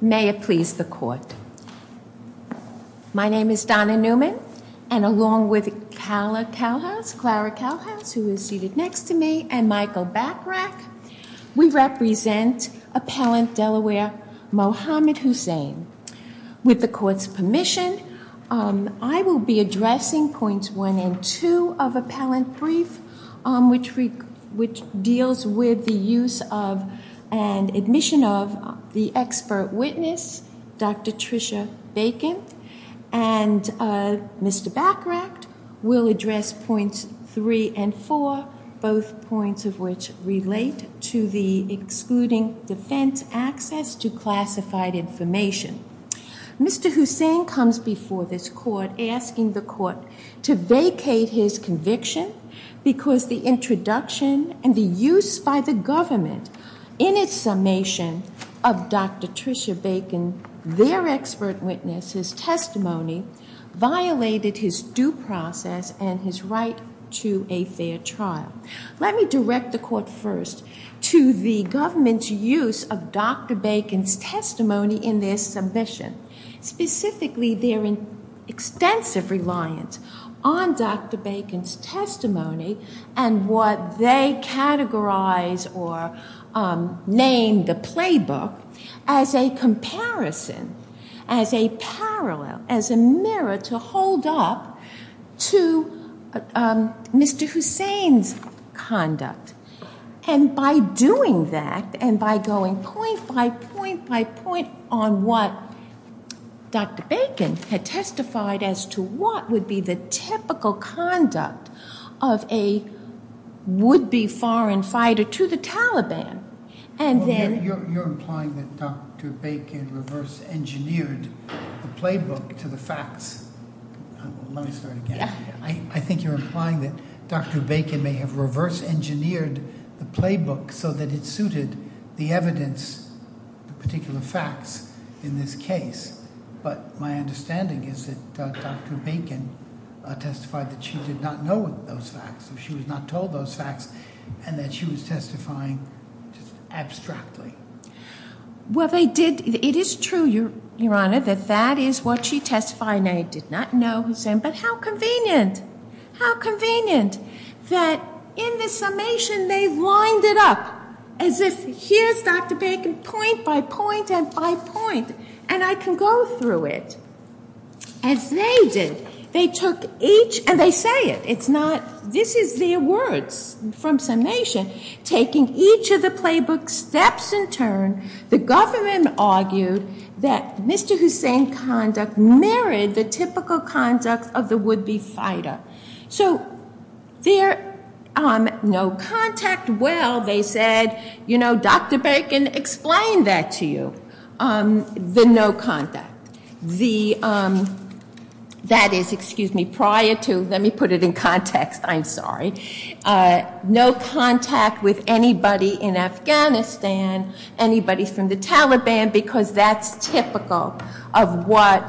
May it please the court. My name is Donna Newman and along with Clara Calhouse who is appellant Delaware Mohammed Hossain. With the court's permission I will be addressing points one and two of appellant brief which deals with the use of and admission of the expert witness Dr. Tricia Bacon and Mr. Backrackt will address points three and four both points of which relate to the excluding defense access to classified information. Mr. Hossain comes before this court asking the court to vacate his conviction because the introduction and the use by the government in its summation of Dr. Tricia Bacon their expert witnesses testimony violated his due process and his right to a fair trial. Let me direct the court first to the government's use of Dr. Bacon's testimony in this submission. Specifically their extensive reliance on Dr. Bacon's testimony and what they categorize or name the playbook as a comparison, as a parallel, as a mirror to hold up to Mr. Hossain's conduct. And by doing that and by going point by point on what Dr. Bacon had testified as to what would be the typical conduct of a would be foreign fighter to the Taliban. You're implying that Dr. Bacon reverse engineered the playbook to the facts. Let me start again. I think you're implying that Dr. Bacon did not know the particular facts in this case. But my understanding is that Dr. Bacon testified that she did not know those facts. She was not told those facts and that she was testifying abstractly. Well, it is true, Your Honor, that that is what she testified. I did not know Hossain, but how convenient, how convenient that in the summation they lined it up as if here's Dr. Bacon point by point and by point and I can go through it. As they did. They took each, and they say it, it's not, this is their words from summation, taking each of the playbook steps in turn, the government argued that Mr. Hossain's conduct mirrored the typical conduct of the would be fighter. So there, no contact. Well, they said, you know, Dr. Bacon explained that to you. The no contact. That is, excuse me, prior to, let me put it in context, I'm sorry. No contact with anybody in Afghanistan, anybody from the Taliban, because that's typical of what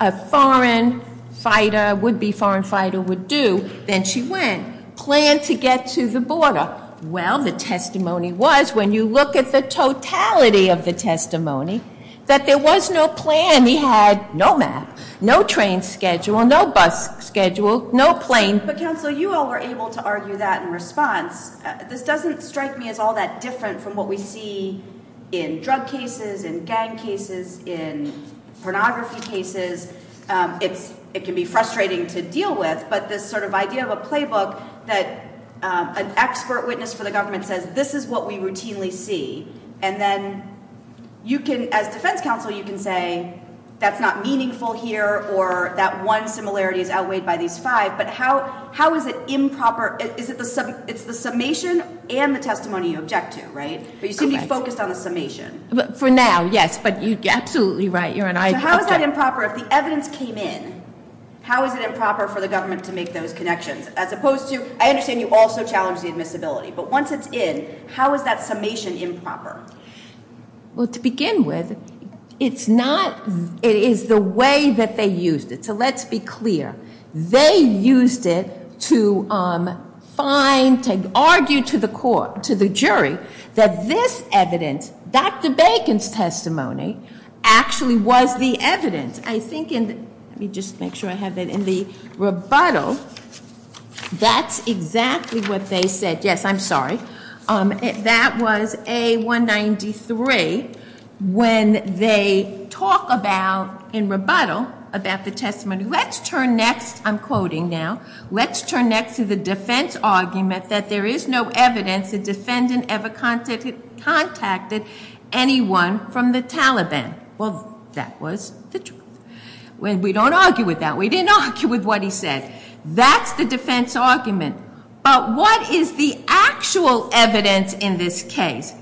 a foreign fighter, would be foreign fighter would do. Then she went, planned to get to the border. Well, the testimony was, when you look at the totality of the testimony, that there was no plan. He had no map, no train schedule, no bus schedule, no plane. But counsel, you all were able to argue that in response. This doesn't strike me as all that different from what we see in drug cases and gang cases in pornography cases. It's it can be frustrating to deal with. But this sort of idea of a playbook that an expert witness for the government says this is what we routinely see. And then you can as defense counsel, you can say that's not meaningful here or that one similarity is outweighed by these five. But how how is it improper? Is it the it's the summation and the testimony you object to? Right. But you seem to be focused on the summation for now. Yes. But you get absolutely right. You're right. How is that improper? If the evidence came in, how is it improper for the government to make those connections as opposed to I understand you also challenge the admissibility. But once it's in, how is that summation improper? Well, to begin with, it's not it is the way that they used it. So let's be clear. They used it to find to argue to the court, to the jury that this evidence, Dr. Bacon's testimony actually was the evidence. I think and let me just make sure I have it in the rebuttal. That's exactly what they said. Yes, I'm sorry. That was A193. When they talk about in rebuttal about the testimony, let's turn next. I'm quoting now. Let's turn next to the defense argument that there is no evidence the defendant ever contacted anyone from the Taliban. Well, that was the truth. We don't argue with that. We didn't argue with what he said. That's the defense argument. But what is the actual evidence in this case?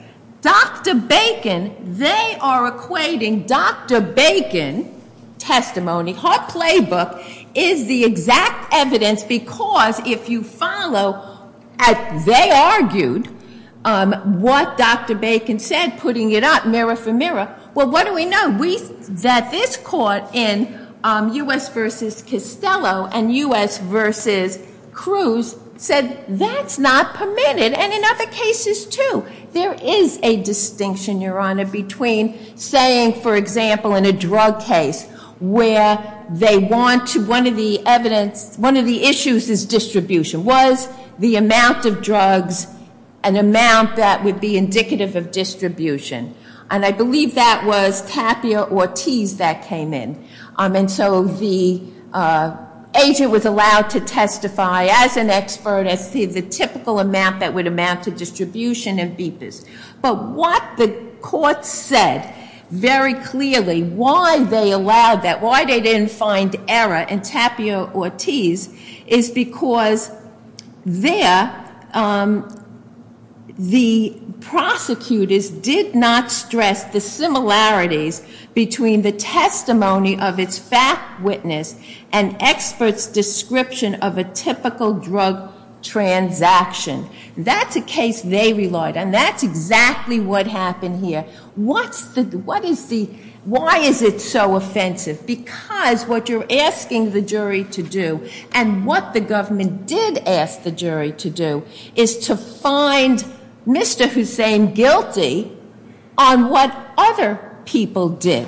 Dr. Bacon, they are equating Dr. Bacon testimony, her playbook, is the exact evidence because if you follow as they argued, what Dr. Bacon said, putting it up mirror for mirror. Well, what do we know? We that this court in U.S. versus Costello and U.S. versus Cruz said that's not permitted. And in other cases, too, there is a distinction, Your Honor, between saying, for example, in a drug case where they want to one of the evidence. One of the issues is distribution. Was the amount of drugs an amount that would be indicative of distribution? And I believe that was Tapia Ortiz that came in. And so the agent was allowed to testify as an expert as the typical amount that would amount to distribution of beepers. But what the court said very clearly, why they allowed that, why they didn't find error in Tapia Ortiz, is because there the prosecutors did not stress the similarities between the testimony of its fact witness and experts' description of a typical drug transaction. That's a case they relied on. That's exactly what happened here. Why is it so offensive? Because what you're asking the jury to do and what the government did ask the jury to do is to find Mr. Hussain guilty on what other people did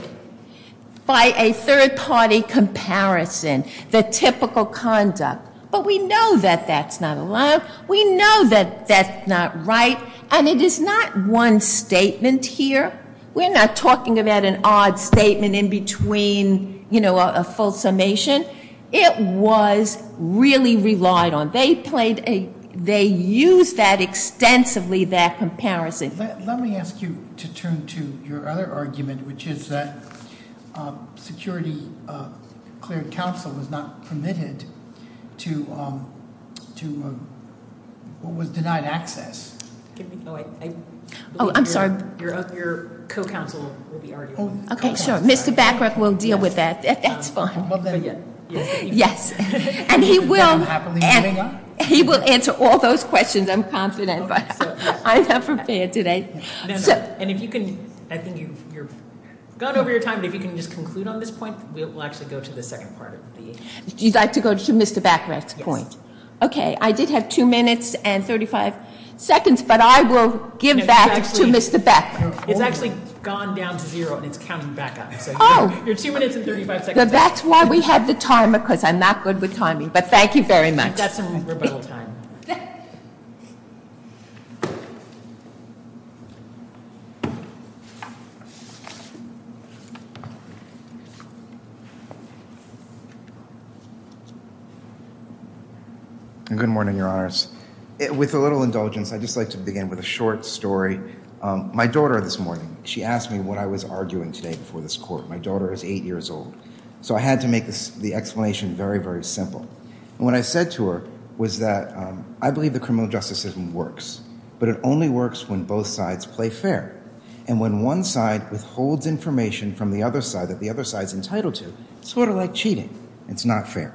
by a third-party comparison, the typical conduct. But we know that that's not allowed. We know that that's not right. And it is not one statement here. We're not talking about an odd statement in between, you know, a full summation. It was really relied on. They played a they used that extensively, that comparison. Let me ask you to turn to your other argument, which is that Security Cleared Counsel was not permitted to, was denied access. Oh, I'm sorry. Your co-counsel will be arguing. Okay, sure. Mr. Bacroft will deal with that. That's fine. Yes. And he will answer all those questions, I'm confident. I'm not prepared today. And if you can, I think you've gone over your time, but if you can just conclude on this point, we'll actually go to the second part of the- You'd like to go to Mr. Bacroft's point? Yes. Okay, I did have two minutes and 35 seconds, but I will give that to Mr. Bacroft. It's actually gone down to zero, and it's counting back up. Oh. So your two minutes and 35 seconds- That's why we have the timer, because I'm not good with timing. But thank you very much. We've got some rebuttal time. Good morning, Your Honors. With a little indulgence, I'd just like to begin with a short story. My daughter this morning, she asked me what I was arguing today before this court. My daughter is eight years old. So I had to make the explanation very, very simple. And what I said to her was that I believe that criminal justice system works, but it only works when both sides play fair. And when one side withholds information from the other side that the other side is entitled to, it's sort of like cheating. It's not fair.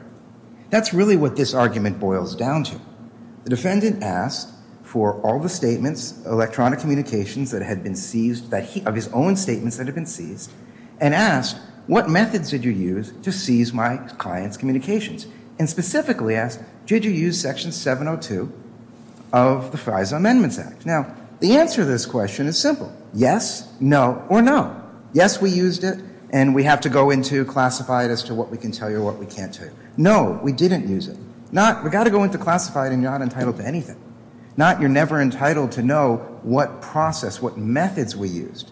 That's really what this argument boils down to. The defendant asked for all the statements, electronic communications that had been seized, of his own statements that had been seized, and asked, what methods did you use to seize my client's communications? And specifically asked, did you use Section 702 of the FISA Amendments Act? Now, the answer to this question is simple. Yes, no, or no. Yes, we used it, and we have to go into classified as to what we can tell you or what we can't tell you. No, we didn't use it. Not, we've got to go into classified and you're not entitled to anything. Not, you're never entitled to know what process, what methods we used.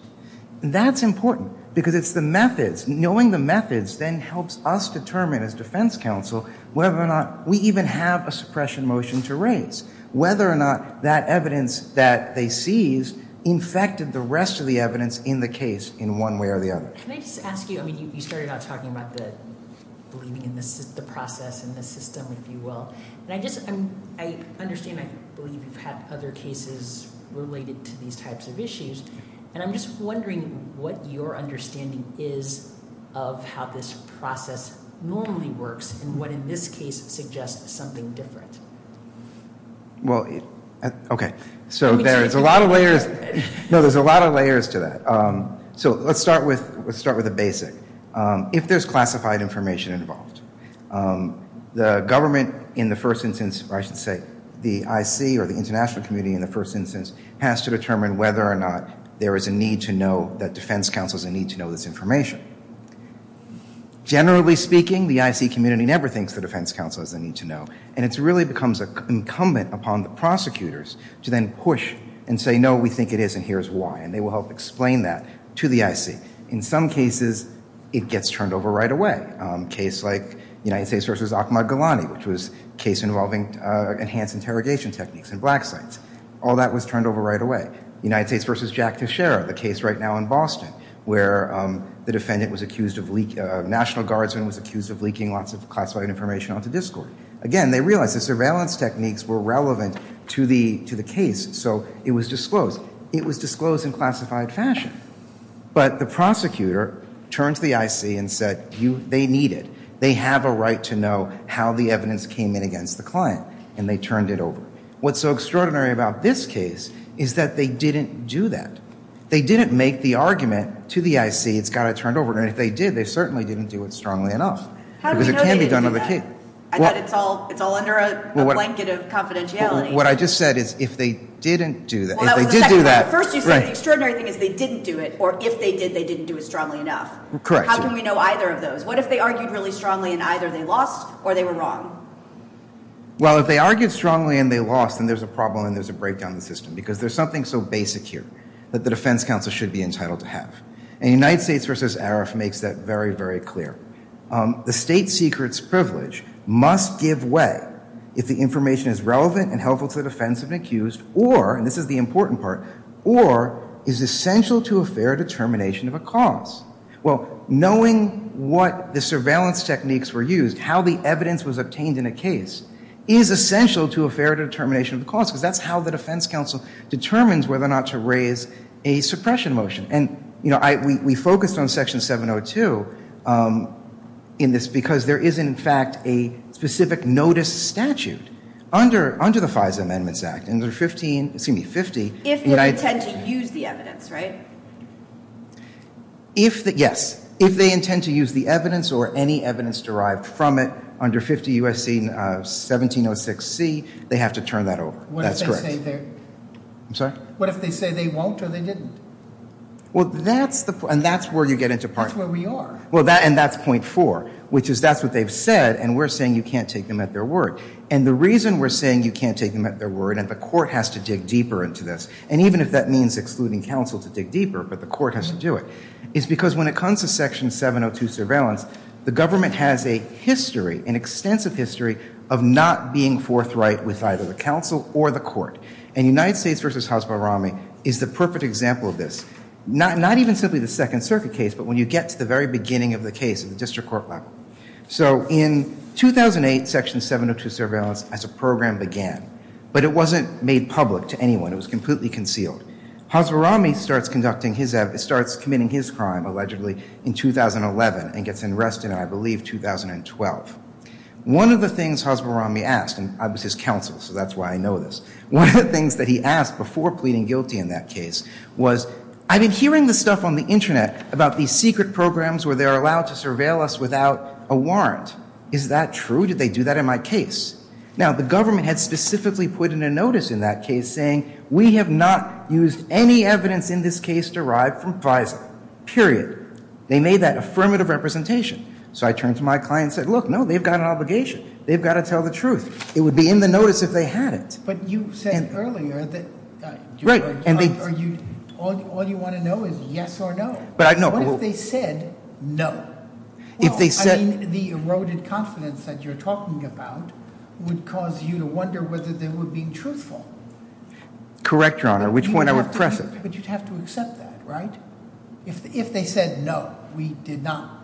That's important because it's the methods. Knowing the methods then helps us determine as defense counsel whether or not we even have a suppression motion to raise, whether or not that evidence that they seized infected the rest of the evidence in the case in one way or the other. Can I just ask you, I mean, you started out talking about believing in the process and the system, if you will, and I just, I understand, I believe you've had other cases related to these types of issues, and I'm just wondering what your understanding is of how this process normally works and what in this case suggests something different. Well, okay, so there's a lot of layers, no, there's a lot of layers to that. So let's start with a basic. If there's classified information involved, the government in the first instance, or I should say, the IC or the international community in the first instance, has to determine whether or not there is a need to know, that defense counsel has a need to know this information. Generally speaking, the IC community never thinks the defense counsel has a need to know, and it really becomes incumbent upon the prosecutors to then push and say, no, we think it is and here's why, and they will help explain that to the IC. In some cases, it gets turned over right away. A case like United States v. Ahmad Ghulani, which was a case involving enhanced interrogation techniques in black sites. All that was turned over right away. United States v. Jack Teixeira, the case right now in Boston, where the defendant was accused of leaking, a National Guardsman was accused of leaking lots of classified information onto Discord. Again, they realized the surveillance techniques were relevant to the case, so it was disclosed. It was disclosed in classified fashion. But the prosecutor turned to the IC and said, they need it. They have a right to know how the evidence came in against the client, and they turned it over. What's so extraordinary about this case is that they didn't do that. They didn't make the argument to the IC, it's got to be turned over, and if they did, they certainly didn't do it strongly enough. Because it can be done on the case. I thought it's all under a blanket of confidentiality. What I just said is, if they didn't do that, if they did do that. But first you said the extraordinary thing is they didn't do it, or if they did, they didn't do it strongly enough. Correct. How can we know either of those? What if they argued really strongly and either they lost or they were wrong? Well, if they argued strongly and they lost, then there's a problem and there's a breakdown in the system. Because there's something so basic here that the defense counsel should be entitled to have. And United States v. Arif makes that very, very clear. The state secret's privilege must give way if the information is relevant and helpful to the defense of an accused or, and this is the important part, or is essential to a fair determination of a cause. Well, knowing what the surveillance techniques were used, how the evidence was obtained in a case, is essential to a fair determination of a cause because that's how the defense counsel determines whether or not to raise a suppression motion. And, you know, we focused on Section 702 in this because there is, in fact, a specific notice statute under the FISA Amendments Act. And there are 15, excuse me, 50. If they intend to use the evidence, right? If, yes. If they intend to use the evidence or any evidence derived from it under 50 U.S.C. 1706C, they have to turn that over. That's correct. What if they say they won't or they didn't? Well, that's the, and that's where you get into part. That's where we are. Well, and that's point four, which is that's what they've said and we're saying you can't take them at their word. And the reason we're saying you can't take them at their word and the court has to dig deeper into this, and even if that means excluding counsel to dig deeper, but the court has to do it, is because when it comes to Section 702 surveillance, the government has a history, an extensive history, of not being forthright with either the counsel or the court. And United States v. Hasbarami is the perfect example of this, not even simply the Second Circuit case, but when you get to the very beginning of the case at the district court level. So in 2008, Section 702 surveillance as a program began, but it wasn't made public to anyone. It was completely concealed. Hasbarami starts conducting his, starts committing his crime, allegedly, in 2011 and gets arrested, I believe, 2012. One of the things Hasbarami asked, and I was his counsel, so that's why I know this, one of the things that he asked before pleading guilty in that case was, I've been hearing this stuff on the internet about these secret programs where they're allowed to surveil us without a warrant. Is that true? Did they do that in my case? Now, the government had specifically put in a notice in that case saying, we have not used any evidence in this case derived from FISA, period. They made that affirmative representation. So I turned to my client and said, look, no, they've got an obligation. They've got to tell the truth. It would be in the notice if they had it. Yes, but you said earlier that all you want to know is yes or no. What if they said no? Well, I mean, the eroded confidence that you're talking about would cause you to wonder whether they were being truthful. Correct, Your Honor, which point I would press it. But you'd have to accept that, right? If they said no, we did not,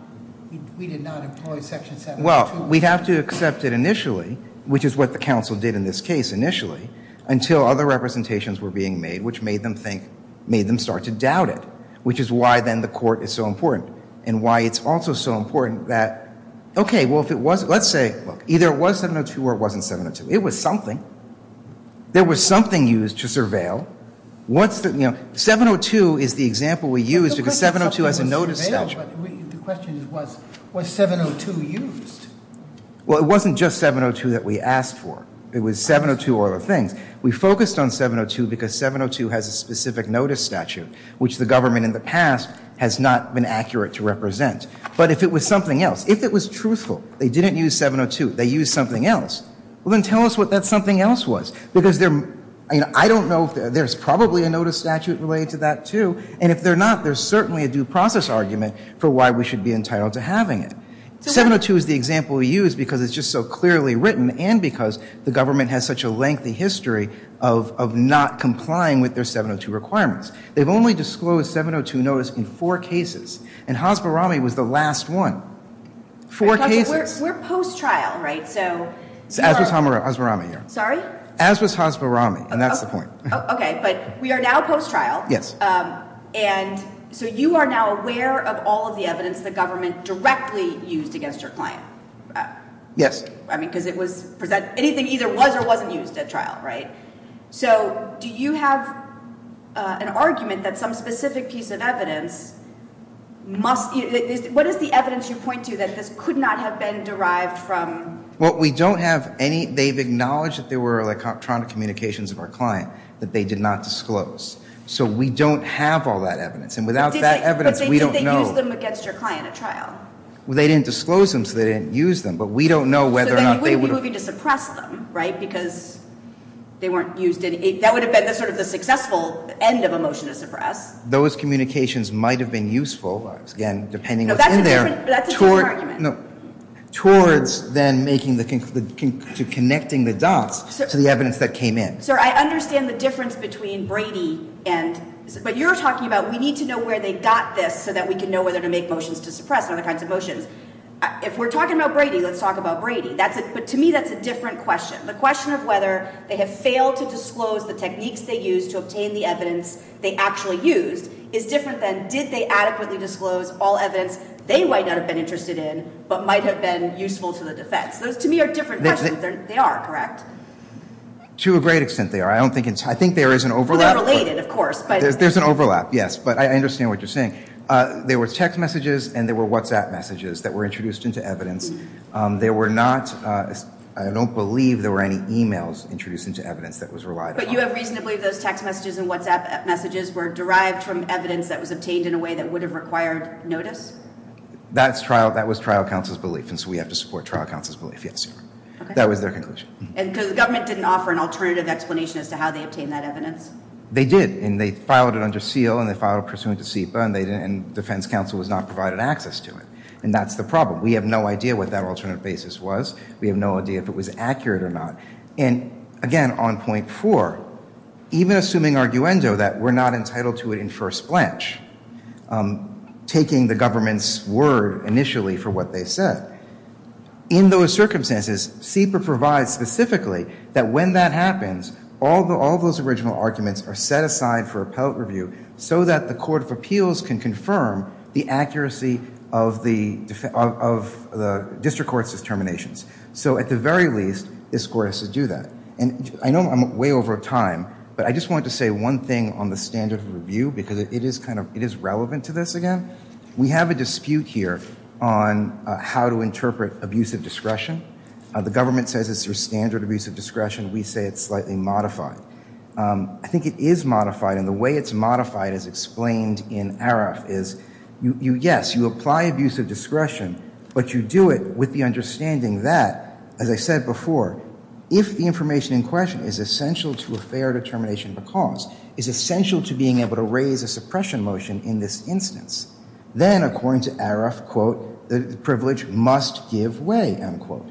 we did not employ Section 72. Well, we'd have to accept it initially, which is what the counsel did in this case initially, until other representations were being made which made them think, made them start to doubt it, which is why then the court is so important and why it's also so important that, okay, well, if it was, let's say, look, either it was 702 or it wasn't 702. It was something. There was something used to surveil. What's the, you know, 702 is the example we used because 702 has a notice statute. But the question is was 702 used? Well, it wasn't just 702 that we asked for. It was 702 or other things. We focused on 702 because 702 has a specific notice statute, which the government in the past has not been accurate to represent. But if it was something else, if it was truthful, they didn't use 702, they used something else, well, then tell us what that something else was because there, you know, I don't know if there's probably a notice statute related to that, too, and if there's not, there's certainly a due process argument for why we should be entitled to having it. 702 is the example we used because it's just so clearly written and because the government has such a lengthy history of not complying with their 702 requirements. They've only disclosed 702 notice in four cases, and Hasbarami was the last one. Four cases. We're post-trial, right? As was Hasbarami. Sorry? As was Hasbarami, and that's the point. Okay, but we are now post-trial. Yes. And so you are now aware of all of the evidence the government directly used against your client. Yes. I mean, because it was, anything either was or wasn't used at trial, right? So do you have an argument that some specific piece of evidence must, what is the evidence you point to that this could not have been derived from? Well, we don't have any, they've acknowledged that there were electronic communications of our client that they did not disclose. So we don't have all that evidence. And without that evidence, we don't know. But did they use them against your client at trial? Well, they didn't disclose them, so they didn't use them. But we don't know whether or not they would have. So then you wouldn't be moving to suppress them, right, because they weren't used. That would have been sort of the successful end of a motion to suppress. Those communications might have been useful, again, depending what's in there. No, that's a different argument. Towards then making the, connecting the dots to the evidence that came in. Sir, I understand the difference between Brady and, but you're talking about we need to know where they got this so that we can know whether to make motions to suppress and other kinds of motions. If we're talking about Brady, let's talk about Brady. But to me, that's a different question. The question of whether they have failed to disclose the techniques they used to obtain the evidence they actually used is different than did they adequately disclose all evidence they might not have been interested in but might have been useful to the defense. Those, to me, are different questions. They are, correct. To a great extent, they are. I don't think, I think there is an overlap. They're related, of course. There's an overlap, yes. But I understand what you're saying. There were text messages and there were WhatsApp messages that were introduced into evidence. There were not, I don't believe there were any e-mails introduced into evidence that was relied upon. But you have reason to believe those text messages and WhatsApp messages were derived from evidence that was obtained in a way that would have required notice? That's trial, that was trial counsel's belief. And so we have to support trial counsel's belief, yes. Okay. That was their conclusion. And because the government didn't offer an alternative explanation as to how they obtained that evidence? They did. And they filed it under SEAL and they filed it pursuant to SEPA and defense counsel was not provided access to it. And that's the problem. We have no idea what that alternative basis was. We have no idea if it was accurate or not. And, again, on point four, even assuming arguendo that we're not entitled to it in first blanche, taking the government's word initially for what they said, in those circumstances, SEPA provides specifically that when that happens, all those original arguments are set aside for appellate review so that the court of appeals can confirm the accuracy of the district court's determinations. So at the very least, this court has to do that. And I know I'm way over time, but I just wanted to say one thing on the standard of review because it is relevant to this, again. We have a dispute here on how to interpret abusive discretion. The government says it's your standard abuse of discretion. We say it's slightly modified. I think it is modified, and the way it's modified, as explained in ARAF, is yes, you apply abusive discretion, but you do it with the understanding that, as I said before, if the information in question is essential to a fair determination of a cause, is essential to being able to raise a suppression motion in this instance, then, according to ARAF, quote, the privilege must give way, end quote.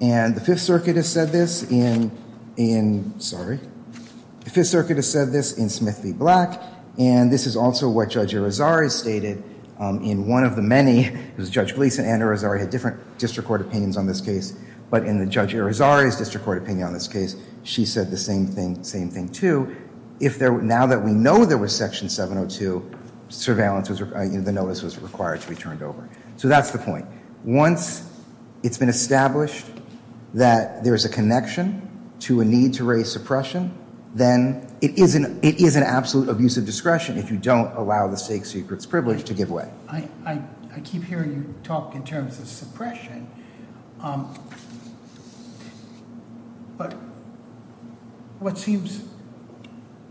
And the Fifth Circuit has said this in Smith v. Black, and this is also what Judge Irizarry stated in one of the many, because Judge Gleeson and Irizarry had different district court opinions on this case, but in Judge Irizarry's district court opinion on this case, she said the same thing too. Now that we know there was Section 702, the notice was required to be turned over. So that's the point. Once it's been established that there is a connection to a need to raise suppression, then it is an absolute abuse of discretion if you don't allow the Sixth Circuit's privilege to give way. I keep hearing you talk in terms of suppression, but what seems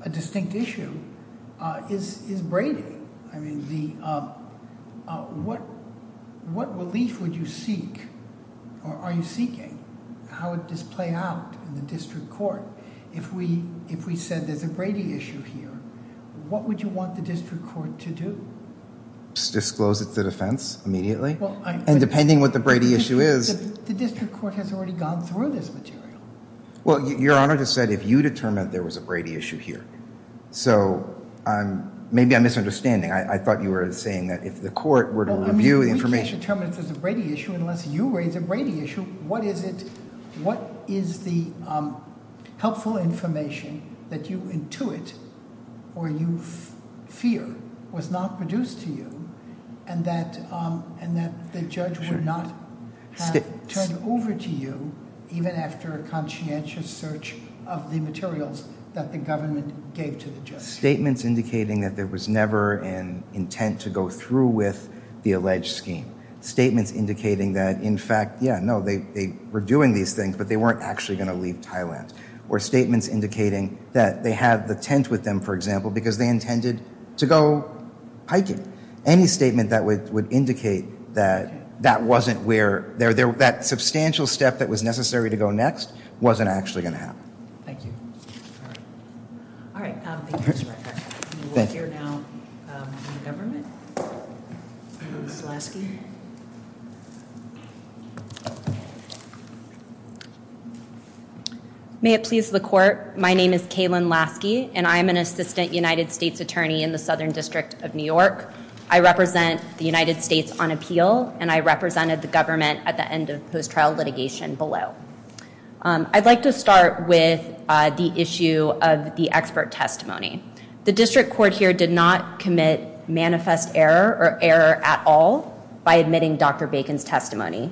a distinct issue is Brady. I mean, what relief would you seek or are you seeking? How would this play out in the district court if we said there's a Brady issue here? What would you want the district court to do? Disclose it to defense immediately? And depending what the Brady issue is— The district court has already gone through this material. Well, Your Honor just said if you determined there was a Brady issue here. So maybe I'm misunderstanding. I thought you were saying that if the court were to review the information— Well, I mean, we can't determine if there's a Brady issue unless you raise a Brady issue. What is the helpful information that you intuit or you fear was not produced to you and that the judge would not have turned over to you even after a conscientious search of the materials that the government gave to the judge? Statements indicating that there was never an intent to go through with the alleged scheme. Statements indicating that, in fact, yeah, no, they were doing these things, but they weren't actually going to leave Thailand. Or statements indicating that they had the tent with them, for example, because they intended to go hiking. Any statement that would indicate that that wasn't where— that substantial step that was necessary to go next wasn't actually going to happen. Thank you. All right. Thank you, Mr. Rector. We will hear now from the government. Ms. Lasky. May it please the court, my name is Kaylin Lasky, and I am an assistant United States attorney in the Southern District of New York. I represent the United States on appeal, and I represented the government at the end of post-trial litigation below. I'd like to start with the issue of the expert testimony. The district court here did not commit manifest error or error at all by admitting Dr. Bacon's testimony.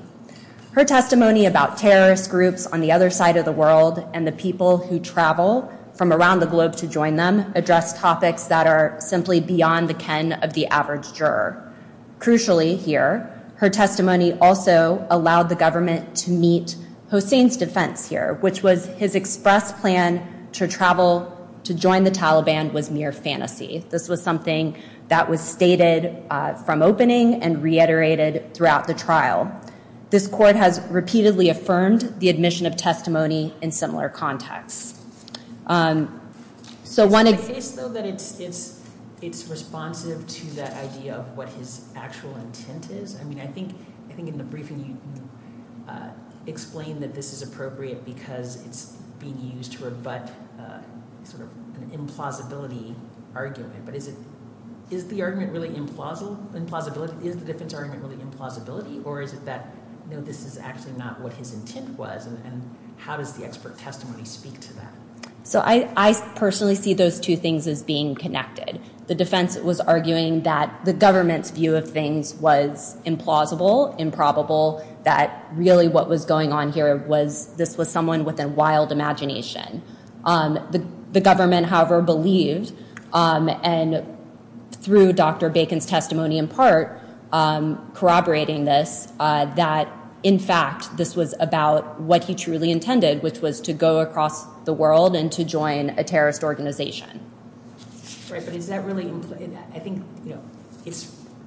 Her testimony about terrorist groups on the other side of the world and the people who travel from around the globe to join them address topics that are simply beyond the ken of the average juror. Crucially here, her testimony also allowed the government to meet Hossein's defense here, which was his express plan to travel to join the Taliban was mere fantasy. This was something that was stated from opening and reiterated throughout the trial. This court has repeatedly affirmed the admission of testimony in similar contexts. It's my case, though, that it's responsive to that idea of what his actual intent is. I mean, I think in the briefing you explained that this is appropriate because it's being used to rebut sort of an implausibility argument, but is the defense argument really implausibility, or is it that no, this is actually not what his intent was, and how does the expert testimony speak to that? So I personally see those two things as being connected. The defense was arguing that the government's view of things was implausible, improbable, that really what was going on here was this was someone with a wild imagination. The government, however, believed, and through Dr. Bacon's testimony in part, corroborating this, that, in fact, this was about what he truly intended, which was to go across the world and to join a terrorist organization. Right, but is that really implausible? I think, you know,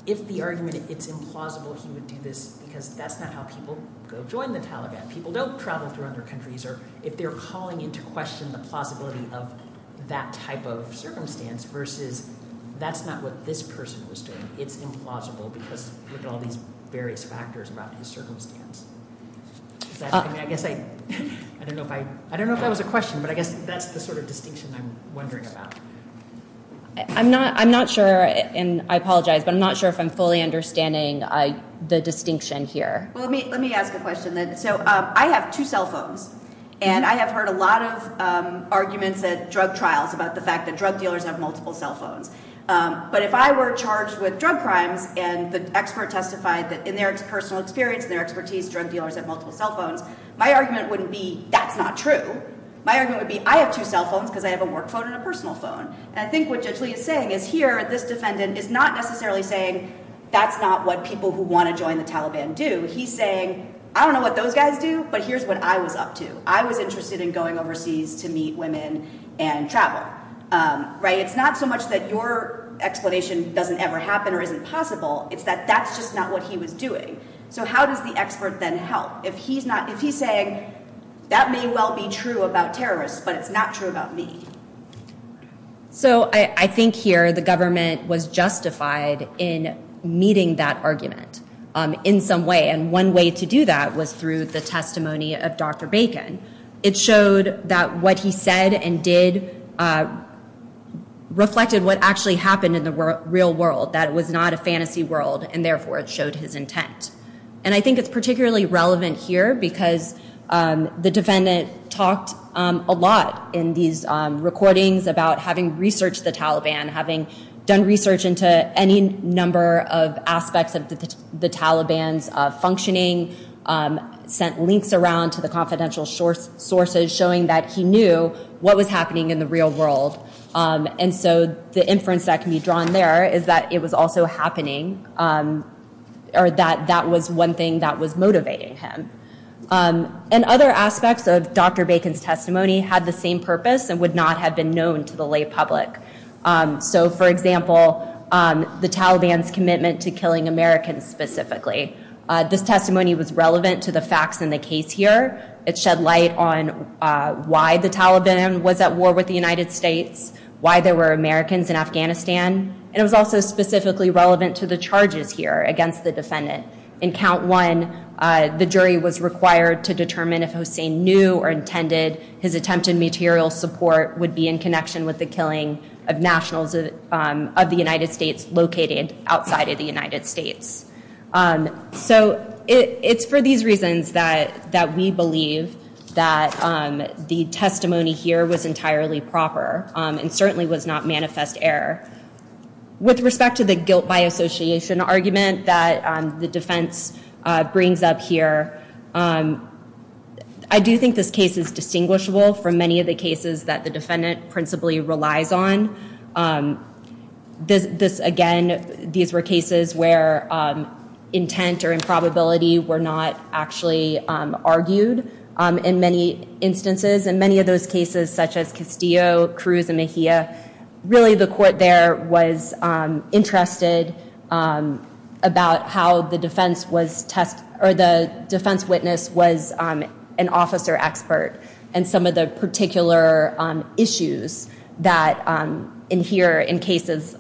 if the argument is implausible, he would do this because that's not how people go join the Taliban. People don't travel through other countries. If they're calling into question the plausibility of that type of circumstance versus that's not what this person was doing, it's implausible because of all these various factors about his circumstance. I guess I don't know if that was a question, but I guess that's the sort of distinction I'm wondering about. I'm not sure, and I apologize, but I'm not sure if I'm fully understanding the distinction here. Well, let me ask a question then. So I have two cell phones, and I have heard a lot of arguments at drug trials about the fact that drug dealers have multiple cell phones. But if I were charged with drug crimes and the expert testified that in their personal experience, in their expertise, drug dealers have multiple cell phones, my argument wouldn't be that's not true. My argument would be I have two cell phones because I have a work phone and a personal phone. And I think what Judge Lee is saying is here, this defendant is not necessarily saying that's not what people who want to join the Taliban do. He's saying I don't know what those guys do, but here's what I was up to. I was interested in going overseas to meet women and travel. It's not so much that your explanation doesn't ever happen or isn't possible. It's that that's just not what he was doing. So how does the expert then help? If he's saying that may well be true about terrorists, but it's not true about me. So I think here the government was justified in meeting that argument in some way, and one way to do that was through the testimony of Dr. Bacon. It showed that what he said and did reflected what actually happened in the real world, that it was not a fantasy world, and therefore it showed his intent. And I think it's particularly relevant here because the defendant talked a lot in these recordings about having researched the Taliban, having done research into any number of aspects of the Taliban's functioning, sent links around to the confidential sources showing that he knew what was happening in the real world. And so the inference that can be drawn there is that it was also happening, or that that was one thing that was motivating him. And other aspects of Dr. Bacon's testimony had the same purpose and would not have been known to the lay public. So, for example, the Taliban's commitment to killing Americans specifically. This testimony was relevant to the facts in the case here. It shed light on why the Taliban was at war with the United States, why there were Americans in Afghanistan, and it was also specifically relevant to the charges here against the defendant. In count one, the jury was required to determine if Hossein knew or intended his attempted material support would be in connection with the killing of nationals of the United States located outside of the United States. So it's for these reasons that we believe that the testimony here was entirely proper and certainly was not manifest error. With respect to the guilt by association argument that the defense brings up here, I do think this case is distinguishable from many of the cases that the defendant principally relies on. Again, these were cases where intent or improbability were not actually argued in many instances. In many of those cases, such as Castillo, Cruz, and Mejia, really the court there was interested about how the defense witness was an officer expert and some of the particular issues that adhere in cases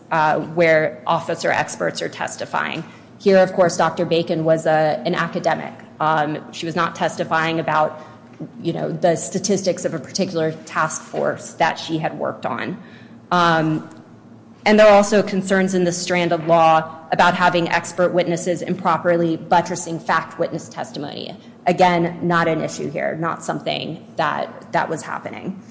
where officer experts are testifying. Here, of course, Dr. Bacon was an academic. She was not testifying about the statistics of a particular task force that she had worked on. And there are also concerns in the strand of law about having expert witnesses improperly buttressing fact witness testimony. Again, not an issue here, not something that was happening.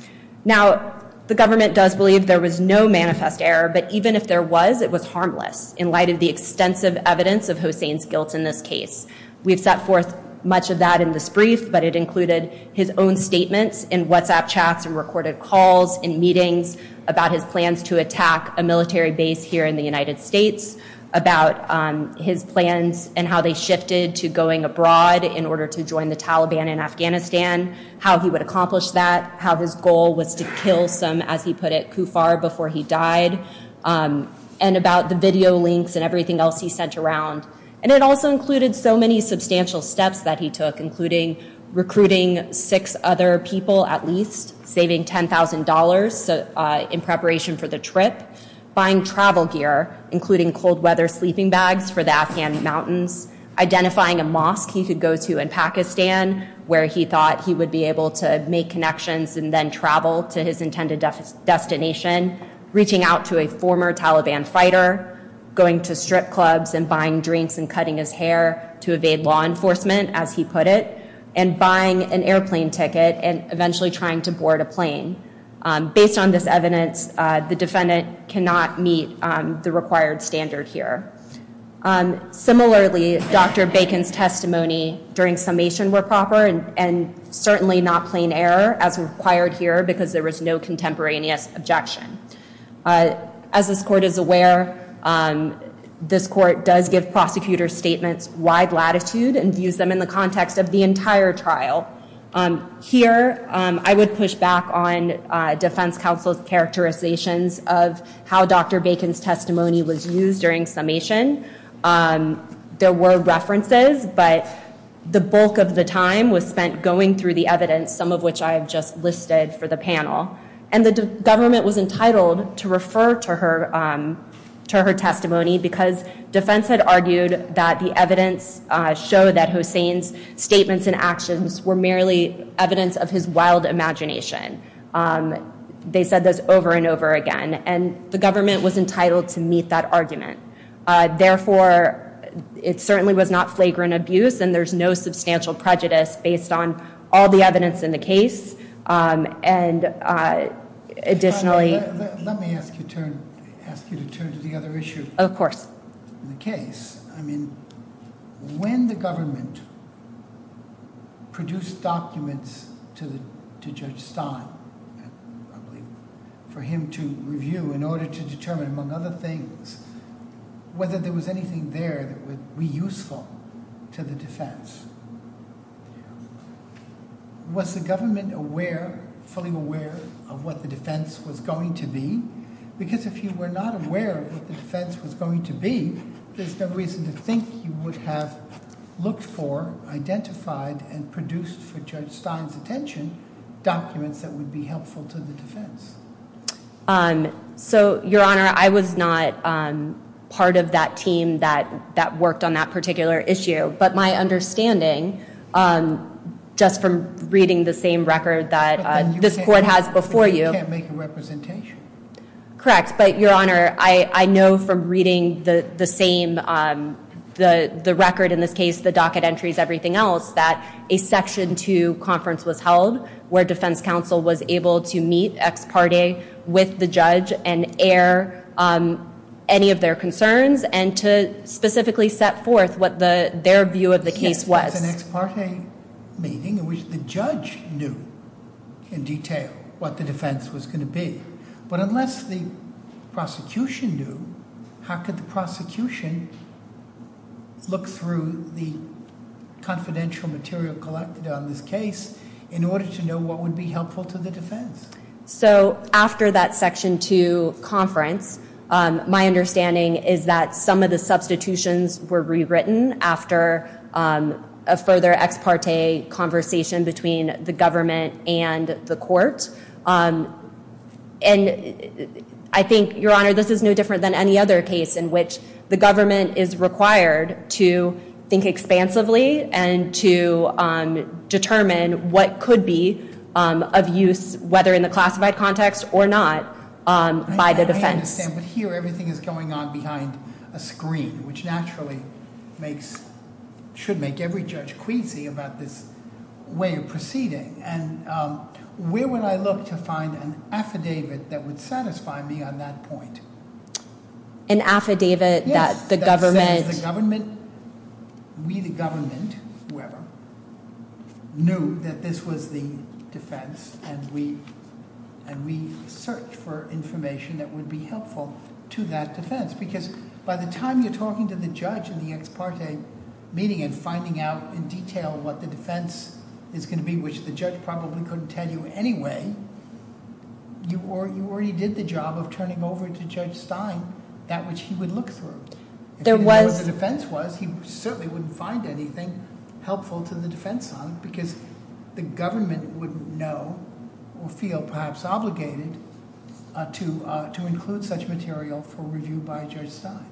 Now, the government does believe there was no manifest error, but even if there was, it was harmless in light of the extensive evidence of Hossein's guilt in this case. We've set forth much of that in this brief, but it included his own statements in WhatsApp chats and recorded calls and meetings about his plans to attack a military base here in the United States, about his plans and how they shifted to going abroad in order to join the Taliban in Afghanistan, how he would accomplish that, how his goal was to kill some, as he put it, kuffar before he died, and about the video links and everything else he sent around. And it also included so many substantial steps that he took, including recruiting six other people at least, saving $10,000 in preparation for the trip, buying travel gear, including cold weather sleeping bags for the Afghan mountains, identifying a mosque he could go to in Pakistan where he thought he would be able to make connections and then travel to his intended destination, reaching out to a former Taliban fighter, going to strip clubs and buying drinks and cutting his hair to evade law enforcement, as he put it, and buying an airplane ticket and eventually trying to board a plane. Based on this evidence, the defendant cannot meet the required standard here. Similarly, Dr. Bacon's testimony during summation were proper and certainly not plain error as required here because there was no contemporaneous objection. As this court is aware, this court does give prosecutors statements wide latitude and views them in the context of the entire trial. Here, I would push back on defense counsel's characterizations of how Dr. Bacon's testimony was used during summation. There were references, but the bulk of the time was spent going through the evidence, some of which I have just listed for the panel. And the government was entitled to refer to her testimony because defense had argued that the evidence showed that Hossain's statements and actions were merely evidence of his wild imagination. They said this over and over again, and the government was entitled to meet that argument. Therefore, it certainly was not flagrant abuse, and there's no substantial prejudice based on all the evidence in the case. Additionally... Let me ask you to turn to the other issue. Of course. In the case, when the government produced documents to Judge Stein, I believe, for him to review in order to determine, among other things, whether there was anything there that would be useful to the defense, was the government fully aware of what the defense was going to be? Because if you were not aware of what the defense was going to be, there's no reason to think you would have looked for, identified, and produced for Judge Stein's attention documents that would be helpful to the defense. Your Honor, I was not part of that team that worked on that particular issue, but my understanding, just from reading the same record that this court has before you... But then you can't make a representation. Correct. But, Your Honor, I know from reading the same... the record in this case, the docket entries, everything else, that a Section 2 conference was held where defense counsel was able to meet ex parte with the judge and air any of their concerns and to specifically set forth what their view of the case was. Yes, it was an ex parte meeting in which the judge knew in detail what the defense was going to be. But unless the prosecution knew, how could the prosecution look through the confidential material collected on this case in order to know what would be helpful to the defense? So, after that Section 2 conference, my understanding is that some of the substitutions were rewritten after a further ex parte conversation between the government and the court. And I think, Your Honor, this is no different than any other case in which the government is required to think expansively and to determine what could be of use, whether in the classified context or not, by the defense. I understand, but here everything is going on behind a screen, which naturally should make every judge queasy about this way of proceeding. And where would I look to find an affidavit that would satisfy me on that point? An affidavit that the government... Yes, that says the government, we the government, whoever, knew that this was the defense and we searched for information that would be helpful to that defense. Because by the time you're talking to the judge in the ex parte meeting and finding out in detail what the defense is going to be, which the judge probably couldn't tell you anyway, you already did the job of turning over to Judge Stein that which he would look through. If he didn't know what the defense was, he certainly wouldn't find anything helpful to the defense on it because the government would know or feel perhaps obligated to include such material for review by Judge Stein.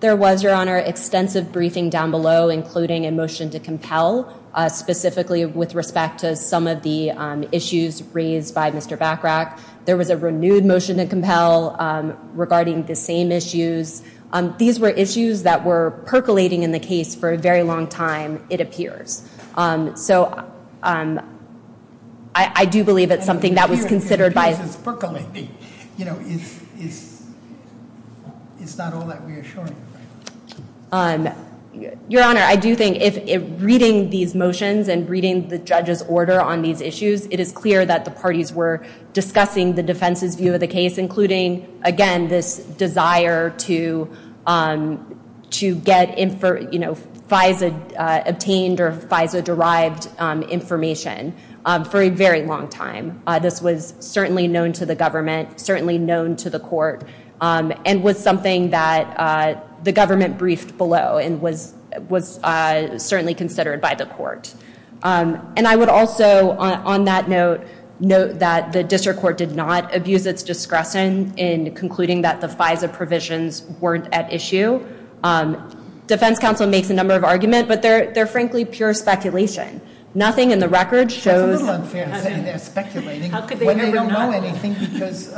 There was, Your Honor, extensive briefing down below, including a motion to compel, specifically with respect to some of the issues raised by Mr. Bachrach. There was a renewed motion to compel regarding the same issues. These were issues that were percolating in the case for a very long time, it appears. So I do believe it's something that was considered by... It's percolating. It's not all that reassuring. Your Honor, I do think if reading these motions and reading the judge's order on these issues, it is clear that the parties were discussing the defense's view of the case, including, again, this desire to get FISA obtained or FISA-derived information for a very long time. This was certainly known to the government, certainly known to the court, and was something that the government briefed below and was certainly considered by the court. And I would also, on that note, note that the district court did not abuse its discretion in concluding that the FISA provisions weren't at issue. Defense counsel makes a number of arguments, but they're frankly pure speculation. Nothing in the record shows... It's a little unfair to say they're speculating when they don't know anything because you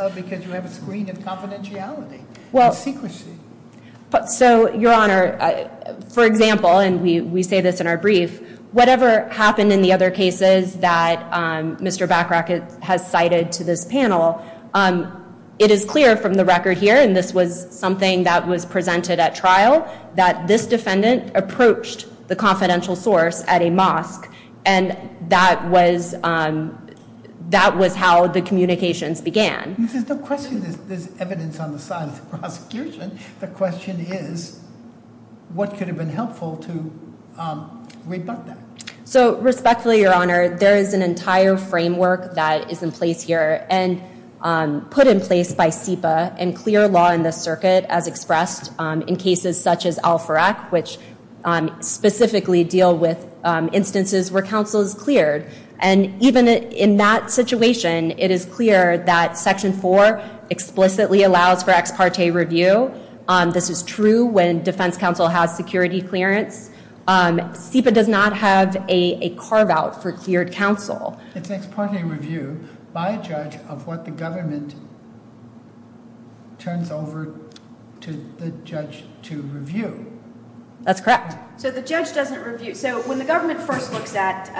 have a screen of confidentiality. It's secrecy. So, Your Honor, for example, and we say this in our brief, whatever happened in the other cases that Mr. Bachrach has cited to this panel, it is clear from the record here, and this was something that was presented at trial, that this defendant approached the confidential source at a mosque and that was how the communications began. There's no question there's evidence on the side of the prosecution. The question is, what could have been helpful to rebut that? So, respectfully, Your Honor, there is an entire framework that is in place here and put in place by SEPA and clear law in the circuit, as expressed in cases such as Al-Farak, which specifically deal with instances where counsel is cleared. And even in that situation, it is clear that Section 4 explicitly allows for ex parte review. This is true when defense counsel has security clearance. SEPA does not have a carve-out for cleared counsel. It's ex parte review, by a judge, of what the government turns over to the judge to review. That's correct. So the judge doesn't review. So when the government first looks at,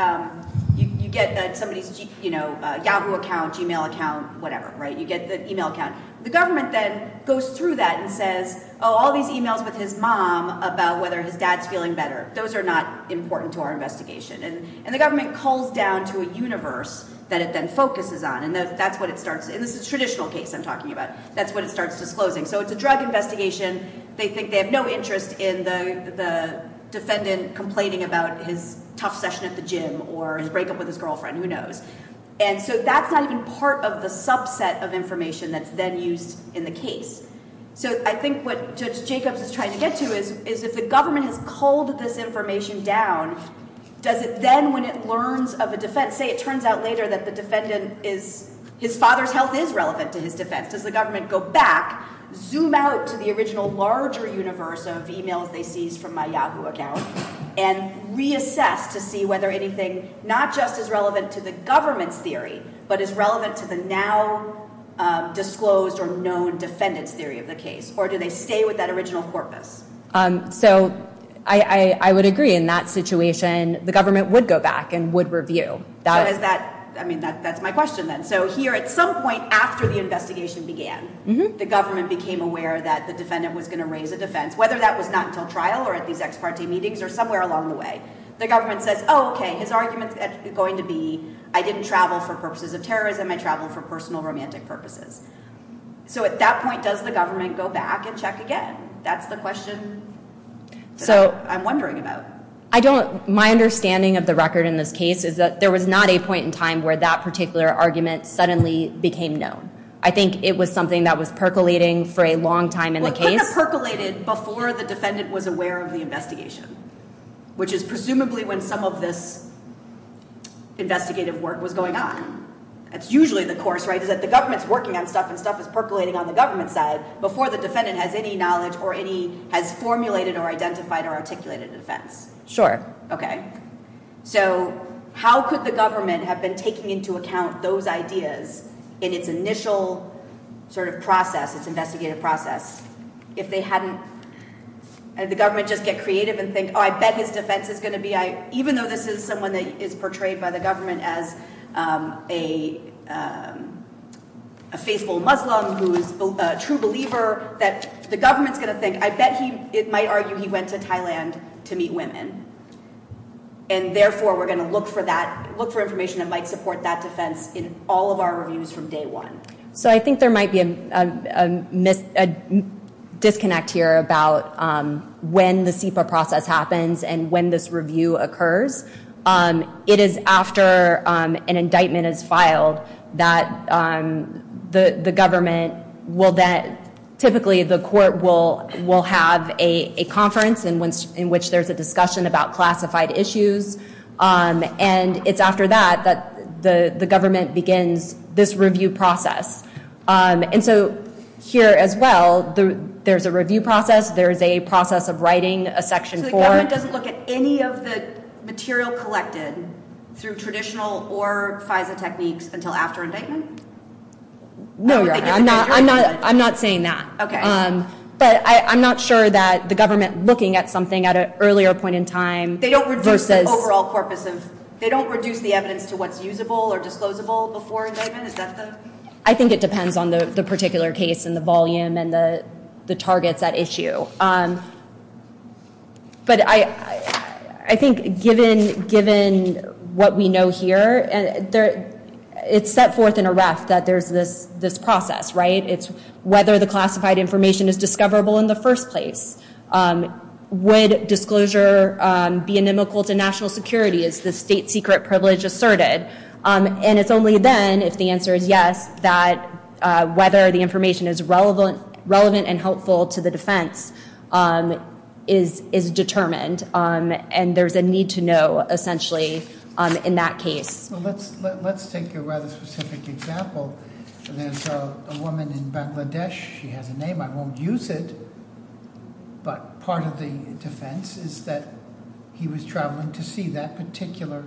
you get somebody's Yahoo account, Gmail account, whatever, right? You get the email account. The government then goes through that and says, oh, all these emails with his mom about whether his dad's feeling better, those are not important to our investigation. And the government calls down to a universe that it then focuses on. And that's what it starts, and this is a traditional case I'm talking about, that's what it starts disclosing. So it's a drug investigation. They think they have no interest in the defendant complaining about his tough session at the gym or his breakup with his girlfriend. Who knows? And so that's not even part of the subset of information that's then used in the case. So I think what Judge Jacobs is trying to get to is, if the government has culled this information down, does it then, when it learns of a defense, say it turns out later that the defendant is, his father's health is relevant to his defense. Does the government go back, zoom out to the original larger universe of emails they seized from my Yahoo account, and reassess to see whether anything not just is relevant to the government's theory, but is relevant to the now disclosed or known defendant's theory of the case? Or do they stay with that original corpus? So I would agree. In that situation, the government would go back and would review. So is that, I mean, that's my question then. So here at some point after the investigation began, the government became aware that the defendant was going to raise a defense, whether that was not until trial or at these ex parte meetings or somewhere along the way. The government says, oh, okay, his argument's going to be, I didn't travel for purposes of terrorism, I traveled for personal romantic purposes. So at that point, does the government go back and check again? That's the question that I'm wondering about. My understanding of the record in this case is that there was not a point in time where that particular argument suddenly became known. I think it was something that was percolating for a long time in the case. Well, it could have percolated before the defendant was aware of the investigation, which is presumably when some of this investigative work was going on. That's usually the course, right, is that the government's working on stuff and stuff is percolating on the government side before the defendant has any knowledge or any, has formulated or identified or articulated a defense. Sure. Okay. So how could the government have been taking into account those ideas in its initial sort of process, its investigative process, if they hadn't, had the government just get creative and think, oh, I bet his defense is going to be, even though this is someone that is portrayed by the government as a faithful Muslim who is a true believer, that the government's going to think, I bet he, it might argue he went to Thailand to meet women, and therefore we're going to look for that, look for information that might support that defense in all of our reviews from day one. So I think there might be a disconnect here about when the SIPA process happens and when this review occurs. It is after an indictment is filed that the government will then, typically the court will have a conference in which there's a discussion about classified issues, and it's after that that the government begins this review process. And so here as well, there's a review process, there's a process of writing a Section 4. So the government doesn't look at any of the material collected through traditional or FISA techniques until after indictment? No, Your Honor, I'm not saying that. Okay. But I'm not sure that the government looking at something at an earlier point in time versus... They don't reduce the overall corpus of, they don't reduce the evidence to what's usable or disclosable before indictment? Is that the... I think it depends on the particular case and the volume and the targets at issue. But I think given what we know here, it's set forth in a ref that there's this process, right? It's whether the classified information is discoverable in the first place. Would disclosure be inimical to national security? Is the state secret privilege asserted? And it's only then, if the answer is yes, that whether the information is relevant and helpful to the defense is determined. And there's a need to know, essentially, in that case. Let's take a rather specific example. There's a woman in Bangladesh. She has a name. I won't use it. But part of the defense is that he was traveling to see that particular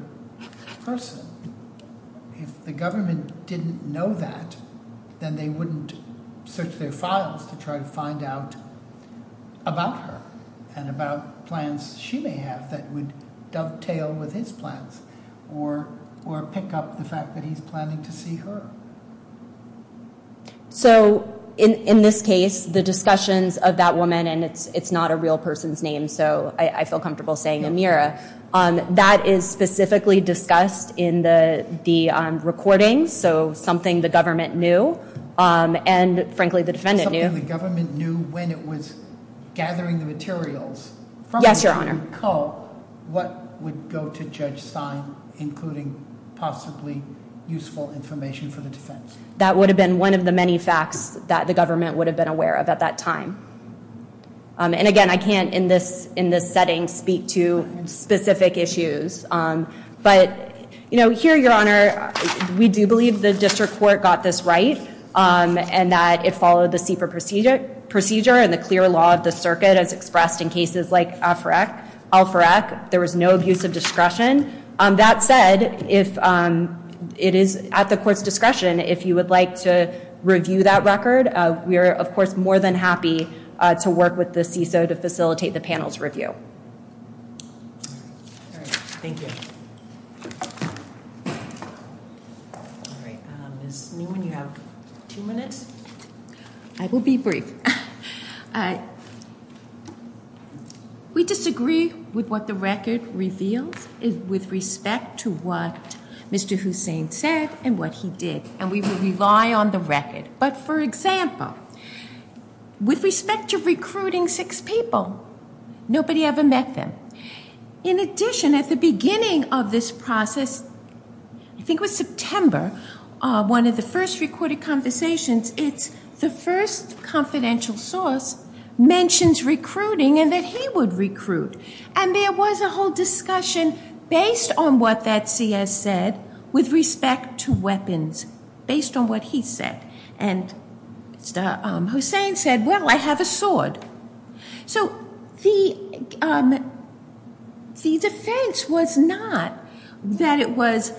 person. If the government didn't know that, then they wouldn't search their files to try to find out about her and about plans she may have that would dovetail with his plans or pick up the fact that he's planning to see her. So in this case, the discussions of that woman, and it's not a real person's name, so I feel comfortable saying Amira, that is specifically discussed in the recording, so something the government knew and, frankly, the defendant knew. Something the government knew when it was gathering the materials from the woman called what would go to Judge Stein, including possibly useful information for the defense. That would have been one of the many facts that the government would have been aware of at that time. And, again, I can't in this setting speak to specific issues. But here, Your Honor, we do believe the district court got this right and that it followed the CEPA procedure and the clear law of the circuit as expressed in cases like Al-Furek. There was no abuse of discretion. That said, it is at the court's discretion if you would like to review that record. We are, of course, more than happy to work with the CISO to facilitate the panel's review. All right. Thank you. All right. Ms. Newman, you have two minutes. I will be brief. We disagree with what the record reveals with respect to what Mr. Hussein said and what he did, and we will rely on the record. But, for example, with respect to recruiting six people, nobody ever met them. In addition, at the beginning of this process, I think it was September, one of the first recorded conversations, it's the first confidential source mentions recruiting and that he would recruit. And there was a whole discussion based on what that CS said with respect to weapons, based on what he said. And Mr. Hussein said, well, I have a sword. So the defense was not that it was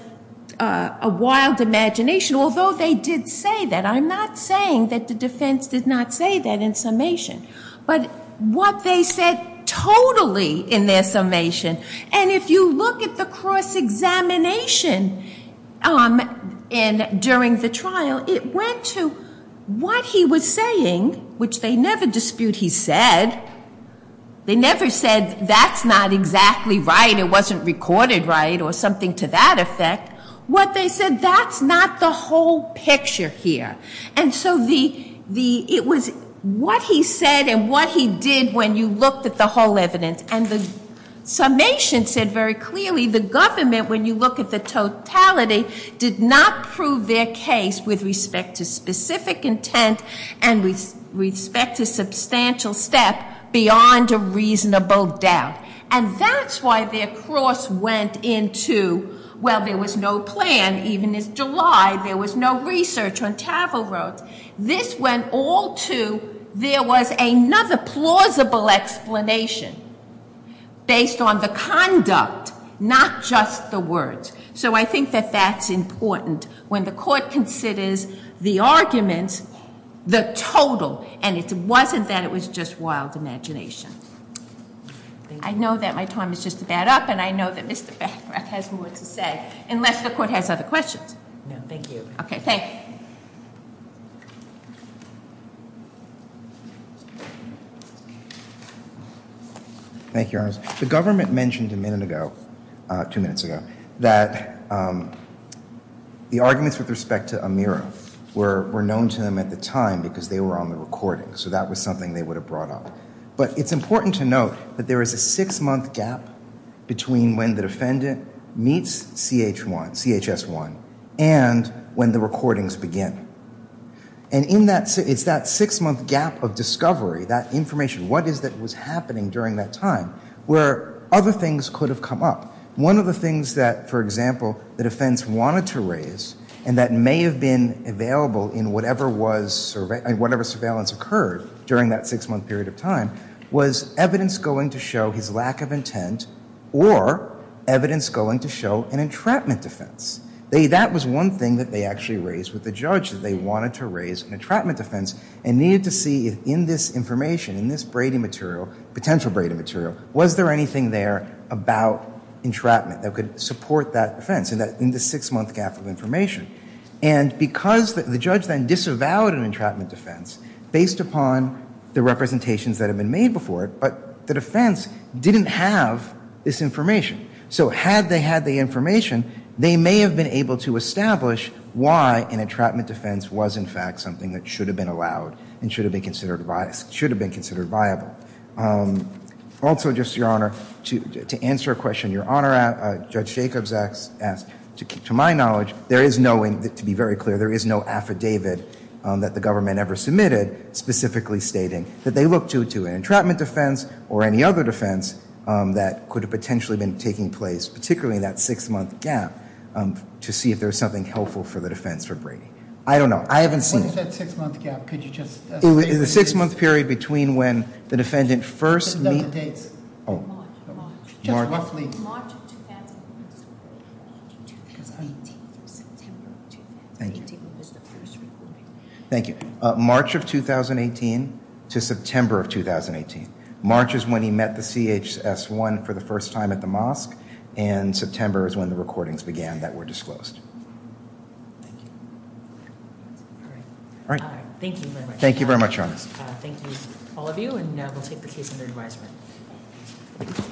a wild imagination, although they did say that. I'm not saying that the defense did not say that in summation, but what they said totally in their summation. And if you look at the cross-examination during the trial, it went to what he was saying, which they never dispute he said. They never said that's not exactly right, it wasn't recorded right, or something to that effect. What they said, that's not the whole picture here. And so it was what he said and what he did when you looked at the whole evidence. And the summation said very clearly the government, when you look at the totality, did not prove their case with respect to specific intent and with respect to substantial step beyond a reasonable doubt. And that's why their cross went into, well, there was no plan, even in July, there was no research on Tavel Road. This went all to, there was another plausible explanation. Based on the conduct, not just the words. So I think that that's important. When the court considers the arguments, the total, and it wasn't that it was just wild imagination. I know that my time is just about up, and I know that Mr. Bancroft has more to say, unless the court has other questions. No, thank you. Okay, thank you. Thank you, Your Honor. The government mentioned a minute ago, two minutes ago, that the arguments with respect to Amira were known to them at the time because they were on the recording. So that was something they would have brought up. But it's important to note that there is a six-month gap between when the defendant meets CHS-1 and when the recordings begin. And it's that six-month gap of discovery, that information, what is it that was happening during that time, where other things could have come up. One of the things that, for example, the defense wanted to raise, and that may have been available in whatever surveillance occurred during that six-month period of time, was evidence going to show his lack of intent or evidence going to show an entrapment defense. That was one thing that they actually raised with the judge, that they wanted to raise an entrapment defense and needed to see if in this information, in this braiding material, potential braiding material, was there anything there about entrapment that could support that defense in the six-month gap of information. And because the judge then disavowed an entrapment defense based upon the representations that had been made before it, but the defense didn't have this information. So had they had the information, they may have been able to establish why an entrapment defense was, in fact, something that should have been allowed and should have been considered viable. Also, just, Your Honor, to answer a question Your Honor, Judge Jacobs asked, to my knowledge, there is no, to be very clear, there is no affidavit that the government ever submitted specifically stating that they looked to an entrapment defense or any other defense that could have potentially been taking place, particularly in that six-month gap, to see if there was something helpful for the defense for braiding. I don't know. I haven't seen it. What is that six-month gap? Could you just state the date? It was a six-month period between when the defendant first met... Just note the dates. Oh. March, March. Just roughly. March of 2001. March of 2018 through September of 2018 was the first recording. Thank you. March of 2018 to September of 2018. March is when he met the CHS-1 for the first time at the mosque, and September is when the recordings began that were disclosed. Thank you. All right. Thank you very much. Thank you very much, Your Honor. Thank you, all of you, and we'll take the case under advisement.